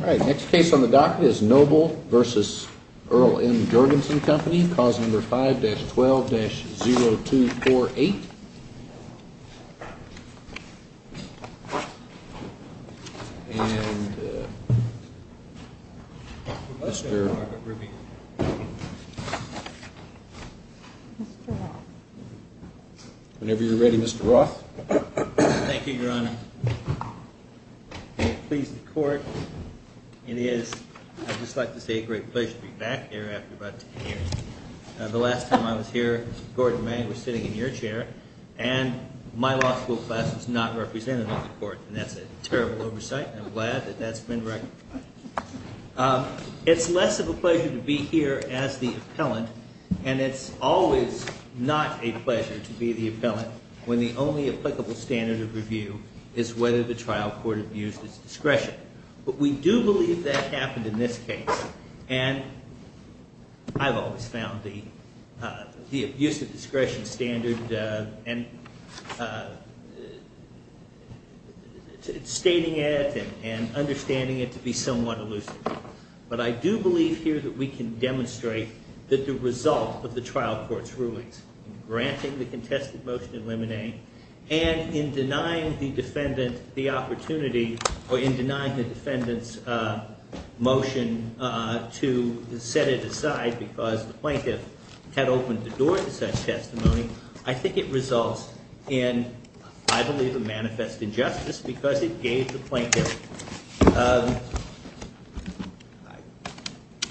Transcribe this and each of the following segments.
5-12-0248, and Mr. Whenever you're ready, Mr. Roth. Please the court. It is, I'd just like to say, a great pleasure to be back here after about 10 years. The last time I was here, Gordon Mang was sitting in your chair, and my law school class was not represented on the court, and that's a terrible oversight, and I'm glad that that's been recognized. It's less of a pleasure to be here as the appellant, and it's always not a pleasure to be the appellant when the only applicable standard of review is whether the trial court abused its discretion. But we do believe that happened in this case, and I've always found the abuse of discretion standard and stating it and understanding it to be somewhat elusive. But I do believe here that we can demonstrate that the result of the trial court's rulings, granting the contested motion in limine, and in denying the defendant the opportunity, or in denying the defendant's motion to set it aside because the plaintiff had opened the door to such testimony, I think it results in, I believe, a manifest injustice because it gave the plaintiff,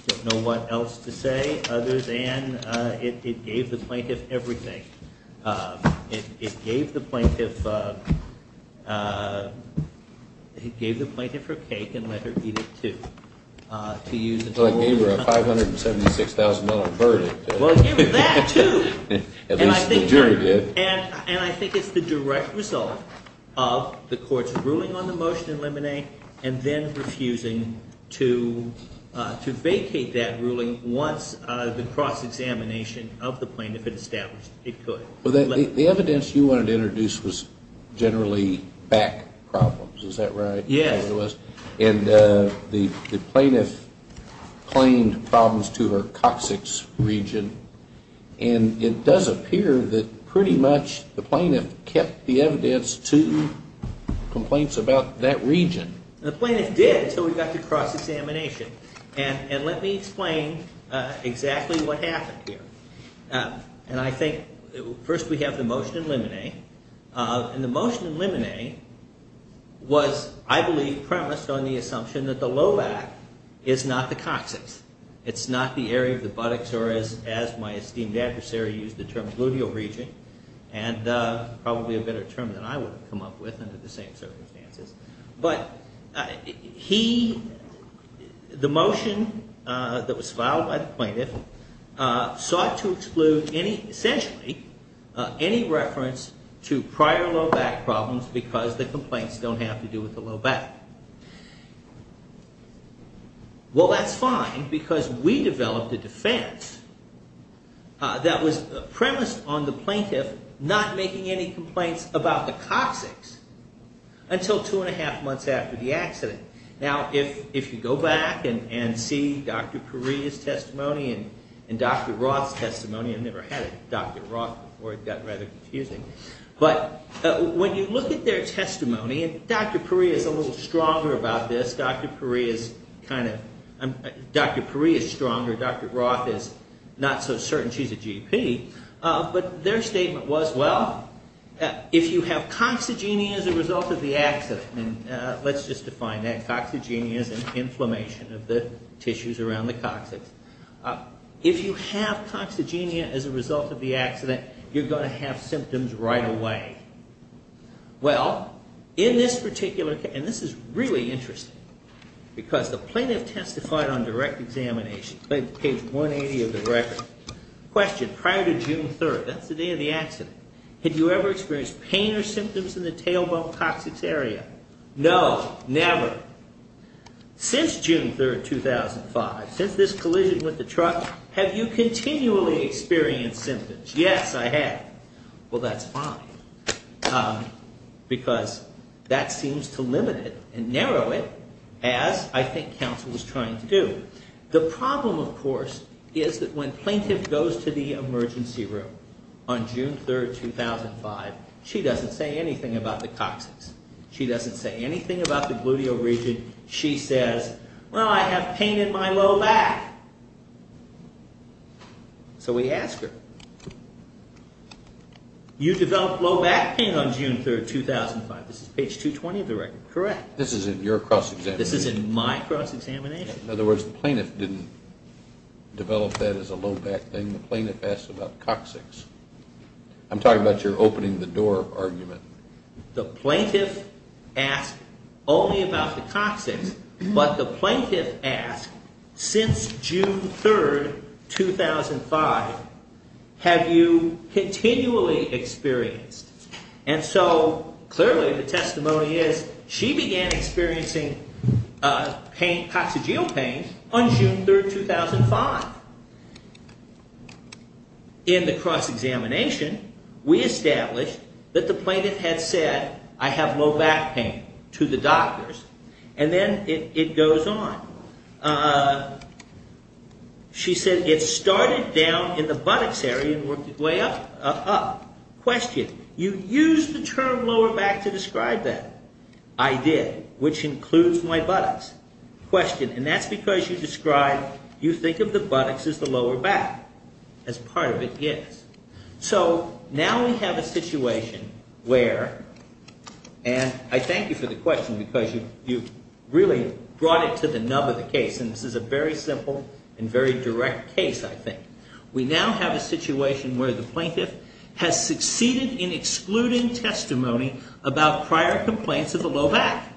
I don't know what else to say, other than it gave the plaintiff everything. It gave the plaintiff her cake and let her eat it too. It gave her a $576,000 verdict. And I think it's the direct result of the court's ruling on the motion in limine and then refusing to vacate that ruling once the cross-examination of the plaintiff had established it could. Well, the evidence you wanted to introduce was generally back problems, is that right? Yes. And the plaintiff claimed problems to her coccyx region, and it does appear that pretty much the plaintiff kept the evidence to complaints about that region. And the plaintiff did until we got to cross-examination, and let me explain exactly what happened here. And I think first we have the motion in limine, and the motion in limine was, I believe, premised on the assumption that the low back is not the coccyx. It's not the area of the buttocks, or as my esteemed adversary used the term, gluteal region, and probably a better term than I would have come up with under the same circumstances. But he, the motion that was filed by the plaintiff, sought to exclude any, essentially, any reference to prior low back problems because the complaints don't have to do with the low back. Well, that's fine because we developed a defense that was premised on the plaintiff not making any complaints about the coccyx until two and a half months after the accident. Now, if you go back and see Dr. Puri's testimony and Dr. Roth's testimony, I've never had a Dr. Roth before. It got rather confusing. But when you look at their testimony, and Dr. Puri is a little stronger about this. Dr. Puri is kind of, Dr. Puri is stronger. Dr. Roth is not so certain. She's a GP. But their statement was, well, if you have coccygenia as a result of the accident, and let's just define that. Coccygenia is an inflammation of the tissues around the coccyx. If you have coccygenia as a result of the accident, you're going to have symptoms right away. Well, in this particular case, and this is really interesting because the plaintiff testified on direct examination, page 180 of the record. Question, prior to June 3rd, that's the day of the accident, had you ever experienced pain or symptoms in the tailbone coccyx area? No, never. Since June 3rd, 2005, since this collision with the truck, have you continually experienced symptoms? Yes, I have. Well, that's fine. Because that seems to limit it and narrow it, as I think counsel was trying to do. The problem, of course, is that when plaintiff goes to the emergency room on June 3rd, 2005, she doesn't say anything about the coccyx. She doesn't say anything about the gluteal region. She says, well, I have pain in my low back. So we ask her, you developed low back pain on June 3rd, 2005. This is page 220 of the record, correct? This is in your cross-examination. This is in my cross-examination. In other words, the plaintiff didn't develop that as a low back pain. The plaintiff asked about coccyx. I'm talking about your opening the door argument. The plaintiff asked only about the coccyx. But the plaintiff asked, since June 3rd, 2005, have you continually experienced? And so clearly the testimony is she began experiencing pain, coccygeal pain, on June 3rd, 2005. In the cross-examination, we established that the plaintiff had said, I have low back pain, to the doctors, and then it goes on. She said, it started down in the buttocks area and worked its way up. Question, you used the term lower back to describe that. And that's because you described, you think of the buttocks as the lower back, as part of it is. So now we have a situation where, and I thank you for the question, because you really brought it to the nub of the case. And this is a very simple and very direct case, I think. We now have a situation where the plaintiff has succeeded in excluding testimony about prior complaints of a low back.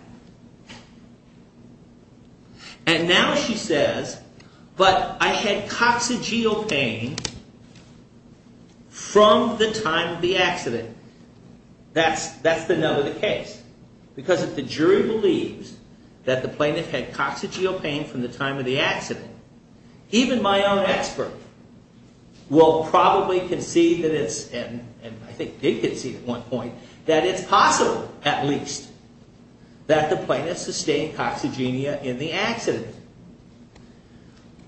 And now she says, but I had coccygeal pain from the time of the accident. That's the nub of the case. Because if the jury believes that the plaintiff had coccygeal pain from the time of the accident, even my own expert will probably concede that it's, and I think they conceded at one point, that it's possible, at least, that the plaintiff sustained coccygemia in the accident.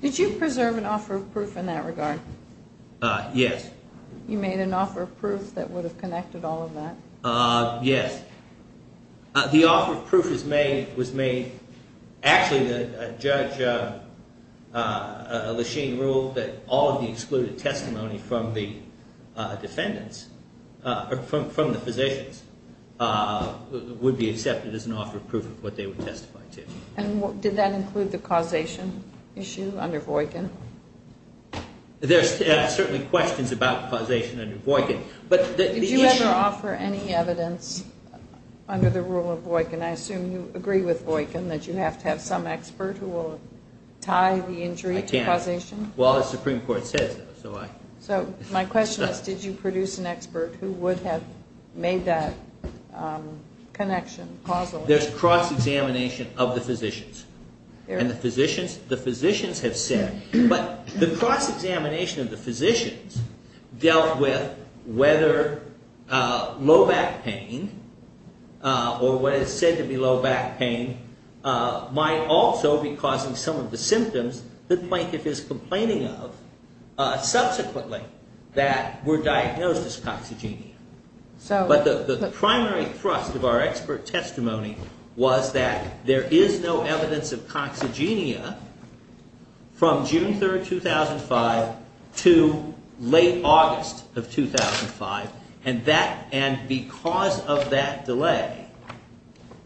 Did you preserve an offer of proof in that regard? Yes. You made an offer of proof that would have connected all of that? Yes. The offer of proof was made, actually, the judge, Lachine, ruled that all of the excluded testimony from the defendants, from the physicians, would be accepted as an offer of proof of what they would testify to. And did that include the causation issue under Voykin? There's certainly questions about causation under Voykin. Did you ever offer any evidence under the rule of Voykin? I assume you agree with Voykin that you have to have some expert who will tie the injury to causation? I can't. Well, the Supreme Court says so. So my question is, did you produce an expert who would have made that connection, causal? There's cross-examination of the physicians. And the physicians have said, but the cross-examination of the physicians dealt with whether low back pain, or what is said to be low back pain, might also be causing some of the symptoms that the plaintiff is complaining of, subsequently, that were diagnosed as coccygemia. But the primary thrust of our expert testimony was that there is no evidence of coccygemia from June 3, 2005, to late August of 2005, and because of that delay,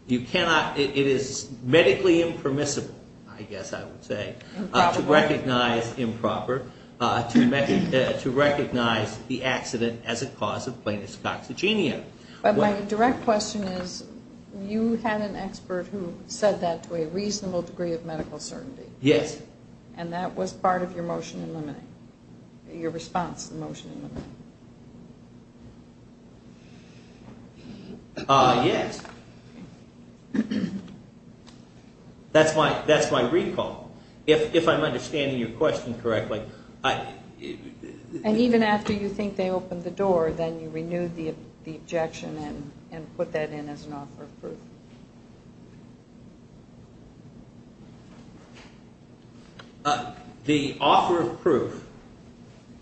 it is medically impermissible, I guess I would say, to recognize improper, to recognize the accident as a cause of plaintiff's coccygemia. But my direct question is, you had an expert who said that to a reasonable degree of medical certainty? Yes. And that was part of your motion in limiting, your response to the motion in limiting? Yes. That's my recall. If I'm understanding your question correctly. And even after you think they opened the door, then you renewed the objection and put that in as an offer of proof? The offer of proof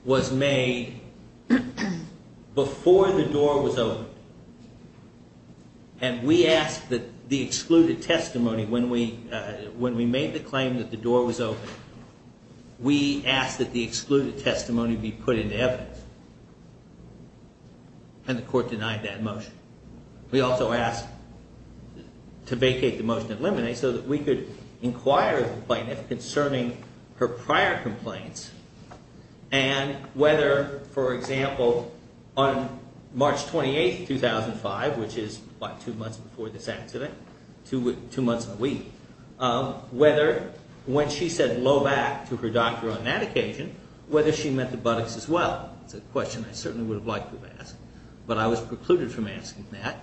was made before the door was opened. And we asked that the excluded testimony, when we made the claim that the door was open, we asked that the excluded testimony be put into evidence. And the court denied that motion. We also asked to vacate the motion in limiting so that we could inquire the plaintiff concerning her prior complaints and whether, for example, on March 28, 2005, which is about two months before this accident, two months and a week, whether when she said low back to her doctor on that occasion, whether she meant the buttocks as well. It's a question I certainly would have liked to have asked, but I was precluded from asking that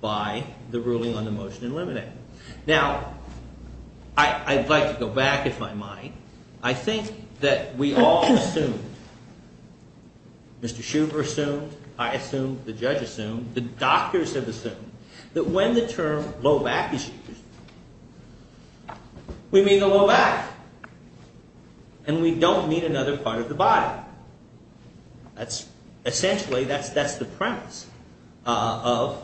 by the ruling on the motion in limiting. Now, I'd like to go back, if I might. I think that we all assumed, Mr. Shubert assumed, I assumed, the judge assumed, the doctors have assumed, that when the term low back is used, we mean the low back, and we don't mean another part of the body. Essentially, that's the premise of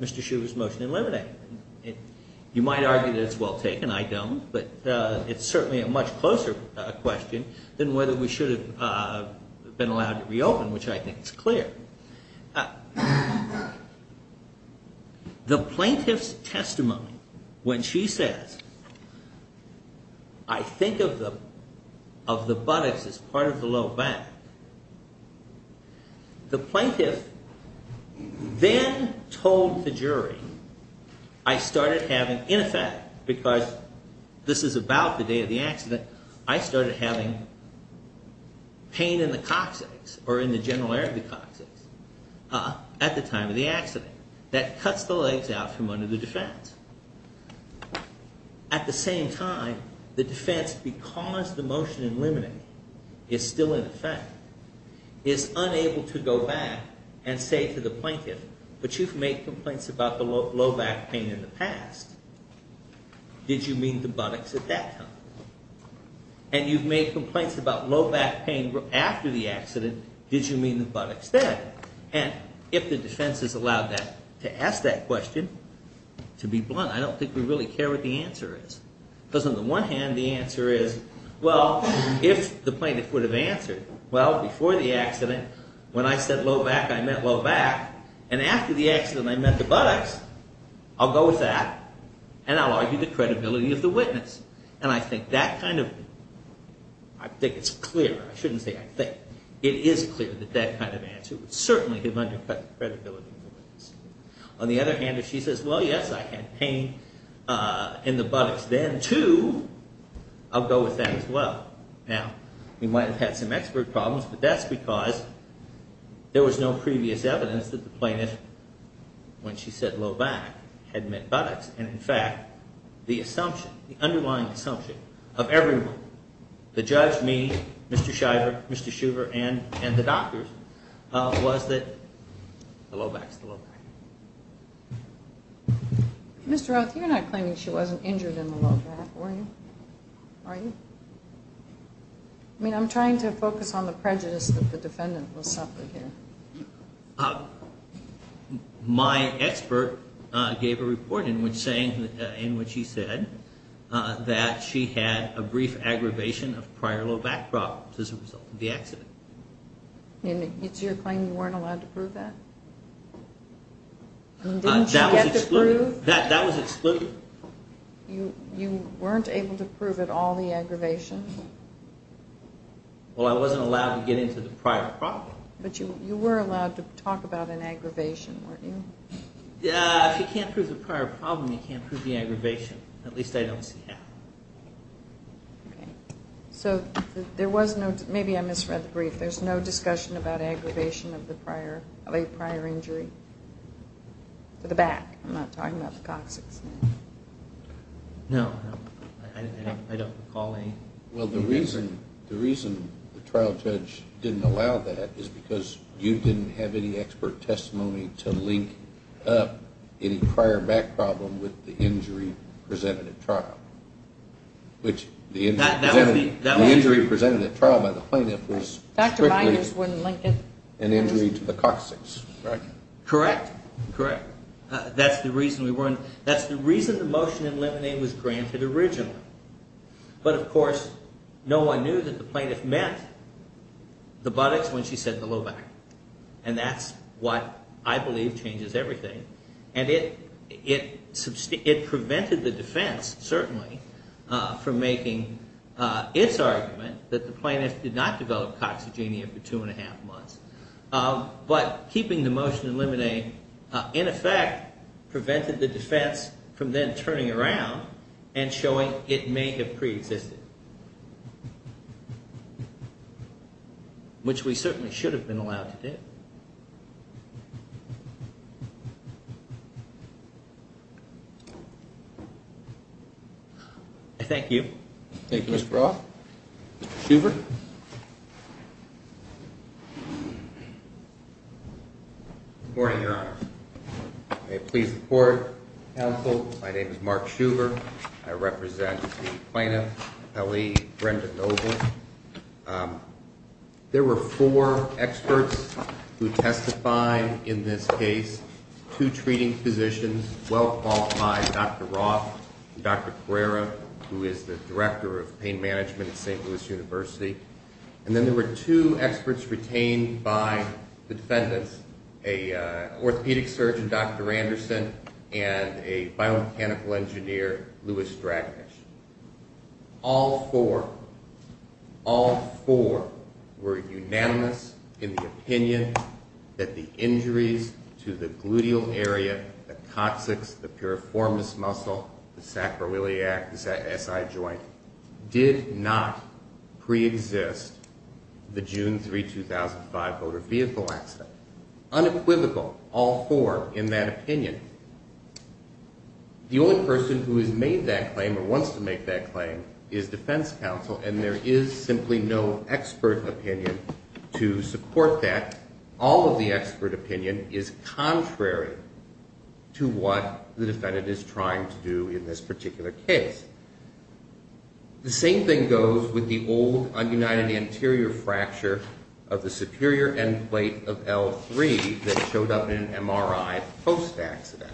Mr. Shubert's motion in limiting. You might argue that it's well taken. I don't, but it's certainly a much closer question than whether we should have been allowed to reopen, which I think is clear. The plaintiff's testimony, when she says, I think of the buttocks as part of the low back, the plaintiff then told the jury, I started having, in effect, because this is about the day of the accident, I started having pain in the coccyx, or in the general area of the coccyx, at the time of the accident. That cuts the legs out from under the defense. At the same time, the defense, because the motion in limiting is still in effect, is unable to go back and say to the plaintiff, but you've made complaints about the low back pain in the past, did you mean the buttocks at that time? And you've made complaints about low back pain after the accident, did you mean the buttocks then? And if the defense has allowed that, to ask that question, to be blunt, I don't think we really care what the answer is. Because on the one hand, the answer is, well, if the plaintiff would have answered, well, before the accident, when I said low back, I meant low back, and after the accident, I meant the buttocks, I'll go with that, and I'll argue the credibility of the witness. And I think that kind of, I think it's clear, I shouldn't say I think, it is clear that that kind of answer would certainly have undercut the credibility of the witness. On the other hand, if she says, well, yes, I had pain in the buttocks then, too, I'll go with that as well. Now, we might have had some expert problems, but that's because there was no previous evidence that the plaintiff, when she said low back, had meant buttocks, and in fact, the assumption, the underlying assumption of everyone, the judge, me, Mr. Shiver, Mr. Shuver, and the doctors, was that the low back's the low back. Mr. Roth, you're not claiming she wasn't injured in the low back, are you? I mean, I'm trying to focus on the prejudice that the defendant was suffering here. My expert gave a report in which he said that she had a brief aggravation of prior low back problems as a result of the accident. And it's your claim you weren't allowed to prove that? That was excluded. You weren't able to prove at all the aggravation? Well, I wasn't allowed to get into the prior problem. But you were allowed to talk about an aggravation, weren't you? If you can't prove the prior problem, you can't prove the aggravation. At least I don't see how. Okay. So there was no, maybe I misread the brief, there's no discussion about aggravation of the late prior injury? For the back, I'm not talking about the coccyx. No. I don't recall any. Well, the reason the trial judge didn't allow that is because you didn't have any expert testimony to link up any prior back problem with the injury presented at trial. Which the injury presented at trial by the plaintiff was strictly an injury to the coccyx. Correct. Correct. That's the reason we weren't, that's the reason the motion in limine was granted originally. But of course, no one knew that the plaintiff meant the buttocks when she said the low back. And that's what I believe changes everything. And it prevented the defense, certainly, from making its argument that the plaintiff did not develop coccygenia for two and a half months. But keeping the motion in limine, in effect, prevented the defense from then turning around and showing it may have preexisted. Which we certainly should have been allowed to do. Thank you. Thank you, Mr. Roth. Mr. Shuver? Good morning, Your Honor. May I please report, counsel? My name is Mark Shuver. I represent the plaintiff, L.E. Brendan Noble. There were four experts who testified in this case. Two treating physicians, well-qualified, Dr. Roth and Dr. Pereira, who is the director of pain management at St. Louis University. And then there were two experts retained by the defendants, an orthopedic surgeon, Dr. Anderson, and a biomechanical engineer, Louis Draganich. All four, all four were unanimous in the opinion that the injuries to the gluteal area, the coccyx, the piriformis muscle, the sacroiliac SI joint, did not preexist the June 3, 2005, motor vehicle accident. Unequivocal, all four, in that opinion. The only person who has made that claim or wants to make that claim is defense counsel, and there is simply no expert opinion to support that. All of the expert opinion is contrary to what the defendant is trying to do in this particular case. The same thing goes with the old, ununited anterior fracture of the superior end plate of L3 that showed up in an MRI post-accident.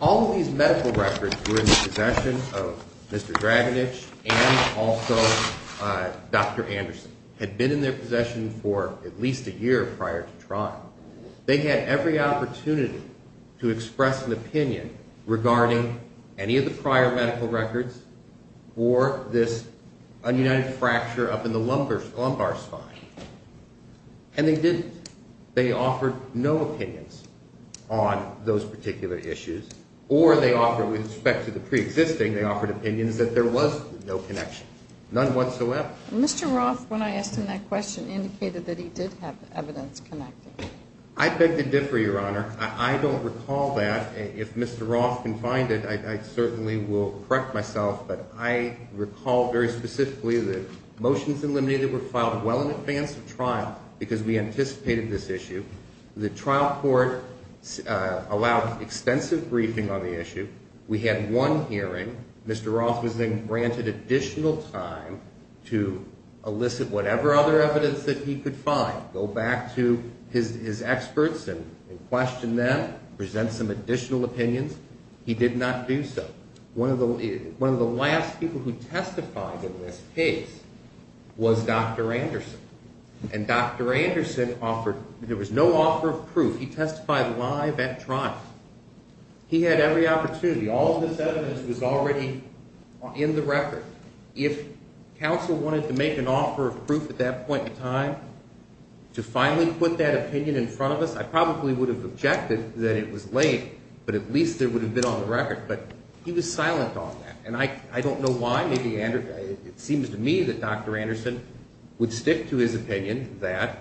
All of these medical records were in the possession of Mr. Draganich and also Dr. Anderson, had been in their possession for at least a year prior to trial. They had every opportunity to express an opinion regarding any of the prior medical records for this ununited fracture up in the lumbar spine, and they didn't. They offered no opinions on those particular issues, or they offered, with respect to the preexisting, they offered opinions that there was no connection, none whatsoever. Mr. Roth, when I asked him that question, indicated that he did have evidence connected. I beg to differ, Your Honor. I don't recall that. If Mr. Roth can find it, I certainly will correct myself. But I recall very specifically that motions eliminated were filed well in advance of trial because we anticipated this issue. The trial court allowed extensive briefing on the issue. We had one hearing. Mr. Roth was then granted additional time to elicit whatever other evidence that he could find, go back to his experts and question them, present some additional opinions. He did not do so. One of the last people who testified in this case was Dr. Anderson. And Dr. Anderson offered, there was no offer of proof. He testified live at trial. He had every opportunity. All of this evidence was already in the record. If counsel wanted to make an offer of proof at that point in time to finally put that opinion in front of us, I probably would have objected that it was late, but at least it would have been on the record. But he was silent on that. And I don't know why. It seems to me that Dr. Anderson would stick to his opinion that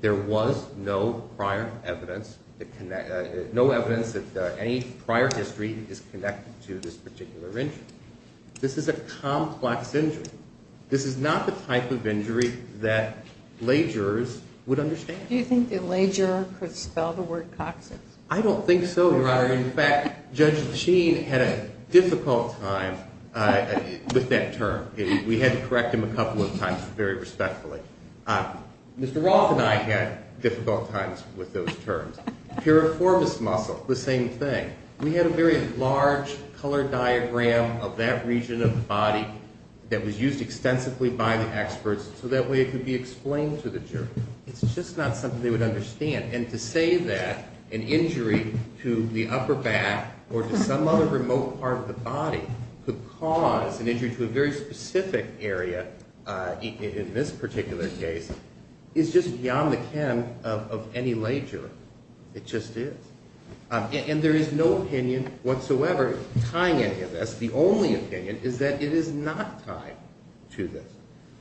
there was no prior evidence, no evidence that any prior history is connected to this particular injury. This is a complex injury. This is not the type of injury that lay jurors would understand. Do you think the lay juror could spell the word coccyx? I don't think so, Your Honor. In fact, Judge Sheen had a difficult time with that term. We had to correct him a couple of times very respectfully. Mr. Roth and I had difficult times with those terms. Piriformis muscle, the same thing. We had a very large color diagram of that region of the body that was used extensively by the experts so that way it could be explained to the jury. It's just not something they would understand. And to say that an injury to the upper back or to some other remote part of the body could cause an injury to a very specific area in this particular case is just beyond the ken of any lay juror. It just is. And there is no opinion whatsoever tying any of this. The only opinion is that it is not tied to this.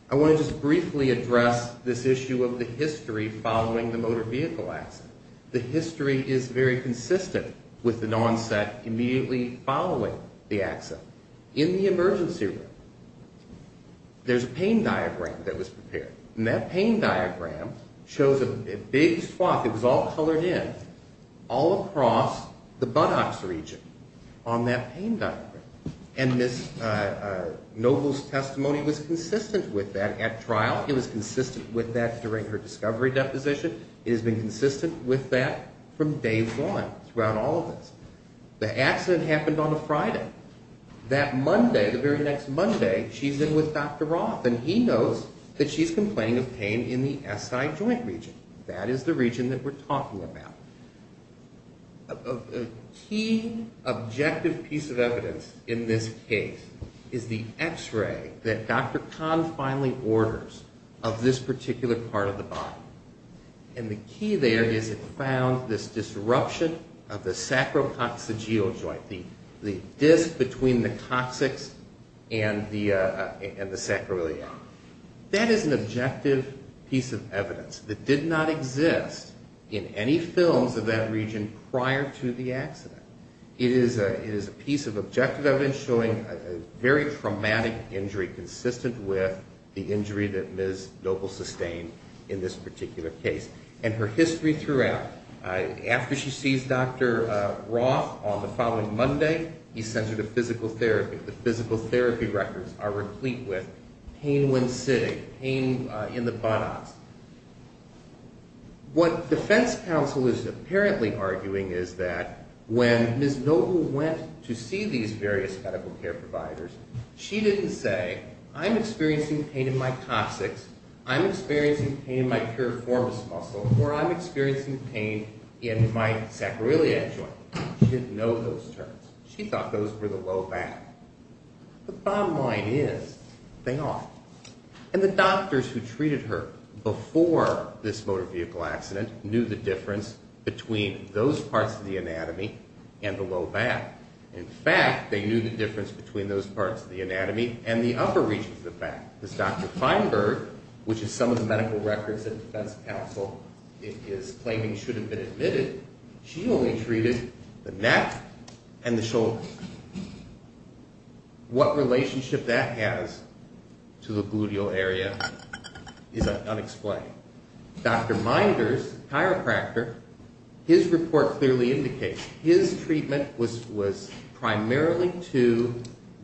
I want to just briefly address this issue of the history following the motor vehicle accident. The history is very consistent with an onset immediately following the accident. In the emergency room, there's a pain diagram that was prepared. And that pain diagram shows a big swath. It was all colored in all across the buttocks region on that pain diagram. And Ms. Noble's testimony was consistent with that at trial. It was consistent with that during her discovery deposition. It has been consistent with that from day one throughout all of this. The accident happened on a Friday. That Monday, the very next Monday, she's in with Dr. Roth, and he knows that she's complaining of pain in the SI joint region. That is the region that we're talking about. A key objective piece of evidence in this case is the X-ray that Dr. Kahn finally orders of this particular part of the body. And the key there is it found this disruption of the sacrococcygeal joint, the disc between the coccyx and the sacroiliac. That is an objective piece of evidence that did not exist in any films of that region prior to the accident. It is a piece of objective evidence showing a very traumatic injury consistent with the injury that Ms. Noble sustained in this particular case. And her history throughout, after she sees Dr. Roth on the following Monday, he sends her to physical therapy. The physical therapy records are replete with pain when sitting, pain in the buttocks. What defense counsel is apparently arguing is that when Ms. Noble went to see these various medical care providers, she didn't say, I'm experiencing pain in my coccyx, I'm experiencing pain in my piriformis muscle, or I'm experiencing pain in my sacroiliac joint. She didn't know those terms. She thought those were the low back. The bottom line is they are. And the doctors who treated her before this motor vehicle accident knew the difference between those parts of the anatomy and the low back. In fact, they knew the difference between those parts of the anatomy and the upper reaches of the back. As Dr. Feinberg, which is some of the medical records that defense counsel is claiming should have been admitted, she only treated the neck and the shoulders. What relationship that has to the gluteal area is unexplained. Dr. Meinders, chiropractor, his report clearly indicates his treatment was primarily to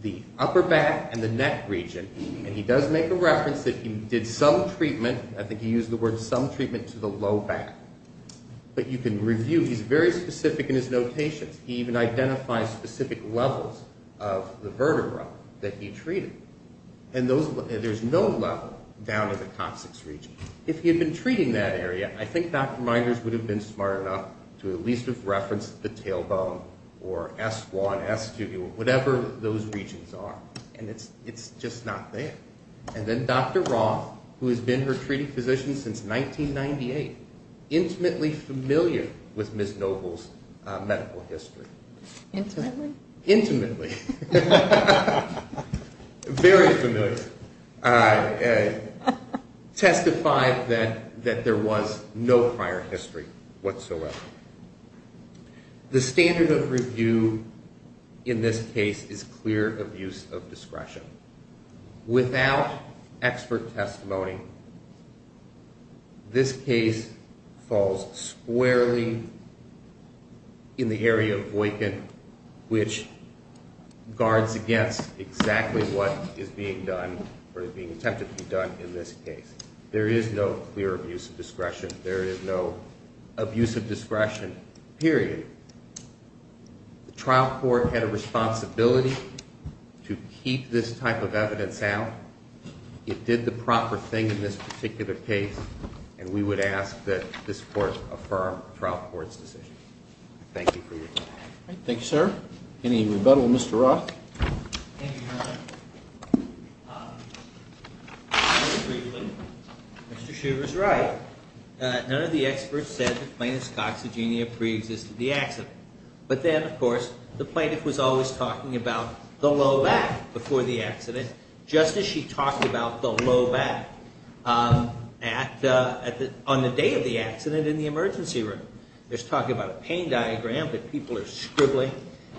the upper back and the neck region. And he does make a reference that he did some treatment, I think he used the word some treatment, to the low back. But you can review, he's very specific in his notations. He even identifies specific levels of the vertebra that he treated. And there's no level down in the coccyx region. If he had been treating that area, I think Dr. Meinders would have been smart enough to at least have referenced the tailbone or S1, S2, whatever those regions are. And it's just not there. And then Dr. Roth, who has been her treating physician since 1998, intimately familiar with Ms. Noble's medical history. Intimately? Intimately. Very familiar. Testified that there was no prior history whatsoever. The standard of review in this case is clear abuse of discretion. Without expert testimony, this case falls squarely in the area of Voightkin, which guards against exactly what is being done or is being attempted to be done in this case. There is no clear abuse of discretion. There is no abuse of discretion, period. The trial court had a responsibility to keep this type of evidence out. It did the proper thing in this particular case, and we would ask that this court affirm the trial court's decision. Thank you for your time. Thank you, sir. Any rebuttal, Mr. Roth? Thank you, Your Honor. Mr. Shriver's right. None of the experts said the plaintiff's coxygenia preexisted the accident. But then, of course, the plaintiff was always talking about the low back before the accident, just as she talked about the low back on the day of the accident in the emergency room. There's talk about a pain diagram that people are scribbling,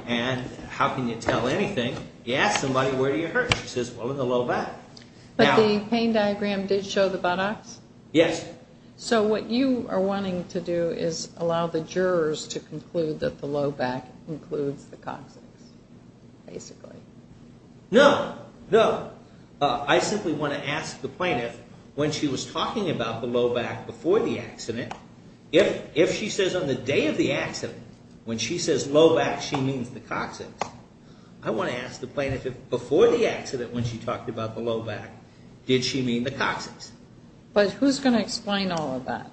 and how can you tell anything? You ask somebody, where do you hurt? She says, well, in the low back. But the pain diagram did show the buttocks? Yes. So what you are wanting to do is allow the jurors to conclude that the low back includes the coccyx, basically. No. No. I simply want to ask the plaintiff, when she was talking about the low back before the accident, if she says on the day of the accident, when she says low back, she means the coccyx, I want to ask the plaintiff, before the accident when she talked about the low back, did she mean the coccyx? But who's going to explain all of that?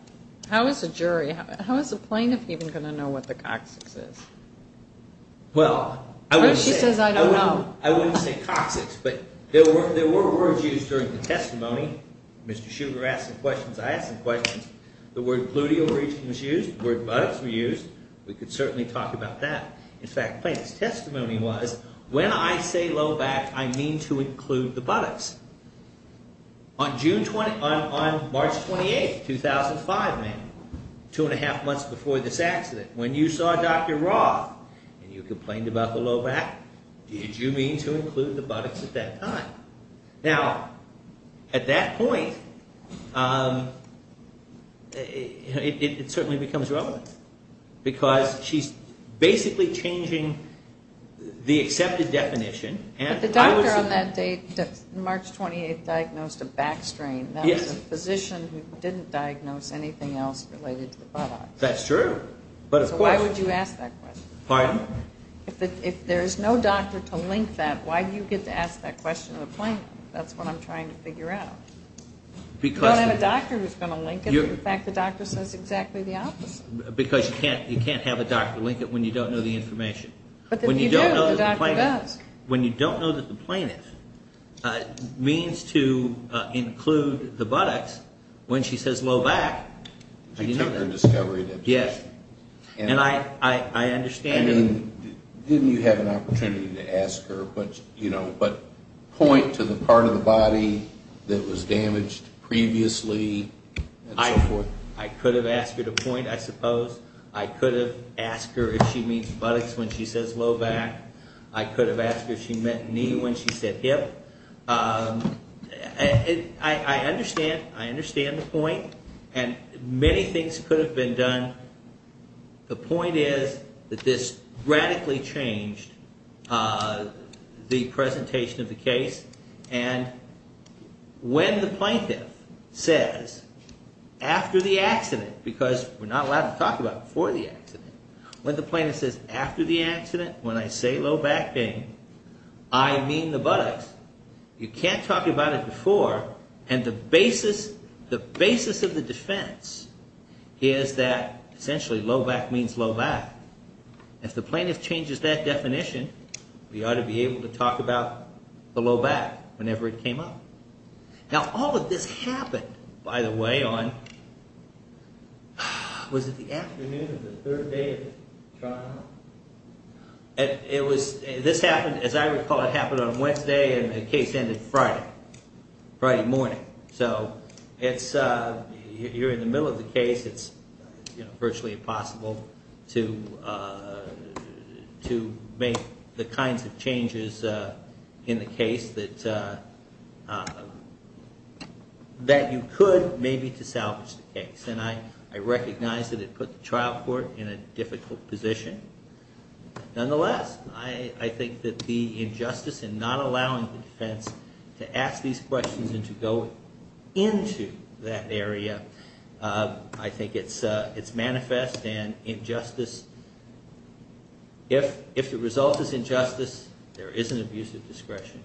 How is a jury, how is a plaintiff even going to know what the coccyx is? Well, I wouldn't say coccyx, but there were words used during the testimony. Mr. Shriver asked some questions, I asked some questions. The word gluteal region was used, the word buttocks was used. We could certainly talk about that. In fact, the plaintiff's testimony was, when I say low back, I mean to include the buttocks. On March 28, 2005, two and a half months before this accident, when you saw Dr. Roth and you complained about the low back, did you mean to include the buttocks at that time? Now, at that point, it certainly becomes relevant, because she's basically changing the accepted definition. But the doctor on that date, March 28, diagnosed a back strain. That was a physician who didn't diagnose anything else related to the buttocks. That's true. So why would you ask that question? Pardon? If there is no doctor to link that, why do you get to ask that question to the plaintiff? That's what I'm trying to figure out. You don't have a doctor who's going to link it. In fact, the doctor says exactly the opposite. Because you can't have a doctor link it when you don't know the information. But if you do, the doctor does. When you don't know that the plaintiff means to include the buttocks, when she says low back, you know that. She took her discovery into account. Yes. And I understand. I mean, didn't you have an opportunity to ask her, you know, but point to the part of the body that was damaged previously and so forth? I could have asked her to point, I suppose. I could have asked her if she means buttocks when she says low back. I could have asked her if she meant knee when she said hip. I understand. I understand the point. And many things could have been done. The point is that this radically changed the presentation of the case. And when the plaintiff says after the accident, because we're not allowed to talk about it before the accident. When the plaintiff says after the accident, when I say low back pain, I mean the buttocks, you can't talk about it before. And the basis of the defense is that essentially low back means low back. If the plaintiff changes that definition, we ought to be able to talk about the low back whenever it came up. Now, all of this happened, by the way, on, was it the afternoon or the third day of the trial? It was, this happened, as I recall, it happened on Wednesday and the case ended Friday, Friday morning. So it's, you're in the middle of the case. It's virtually impossible to make the kinds of changes in the case that you could maybe to salvage the case. And I recognize that it put the trial court in a difficult position. Nonetheless, I think that the injustice in not allowing the defense to ask these questions and to go into that area, I think it's manifest. And injustice, if the result is injustice, there is an abuse of discretion.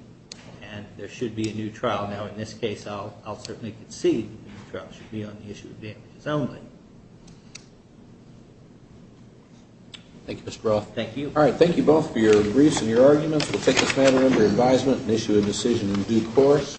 And there should be a new trial. Now, in this case, I'll certainly concede that the trial should be on the issue of damages only. Thank you, Mr. Roth. Thank you. All right, thank you both for your briefs and your arguments. We'll take this matter under advisement and issue a decision in due course.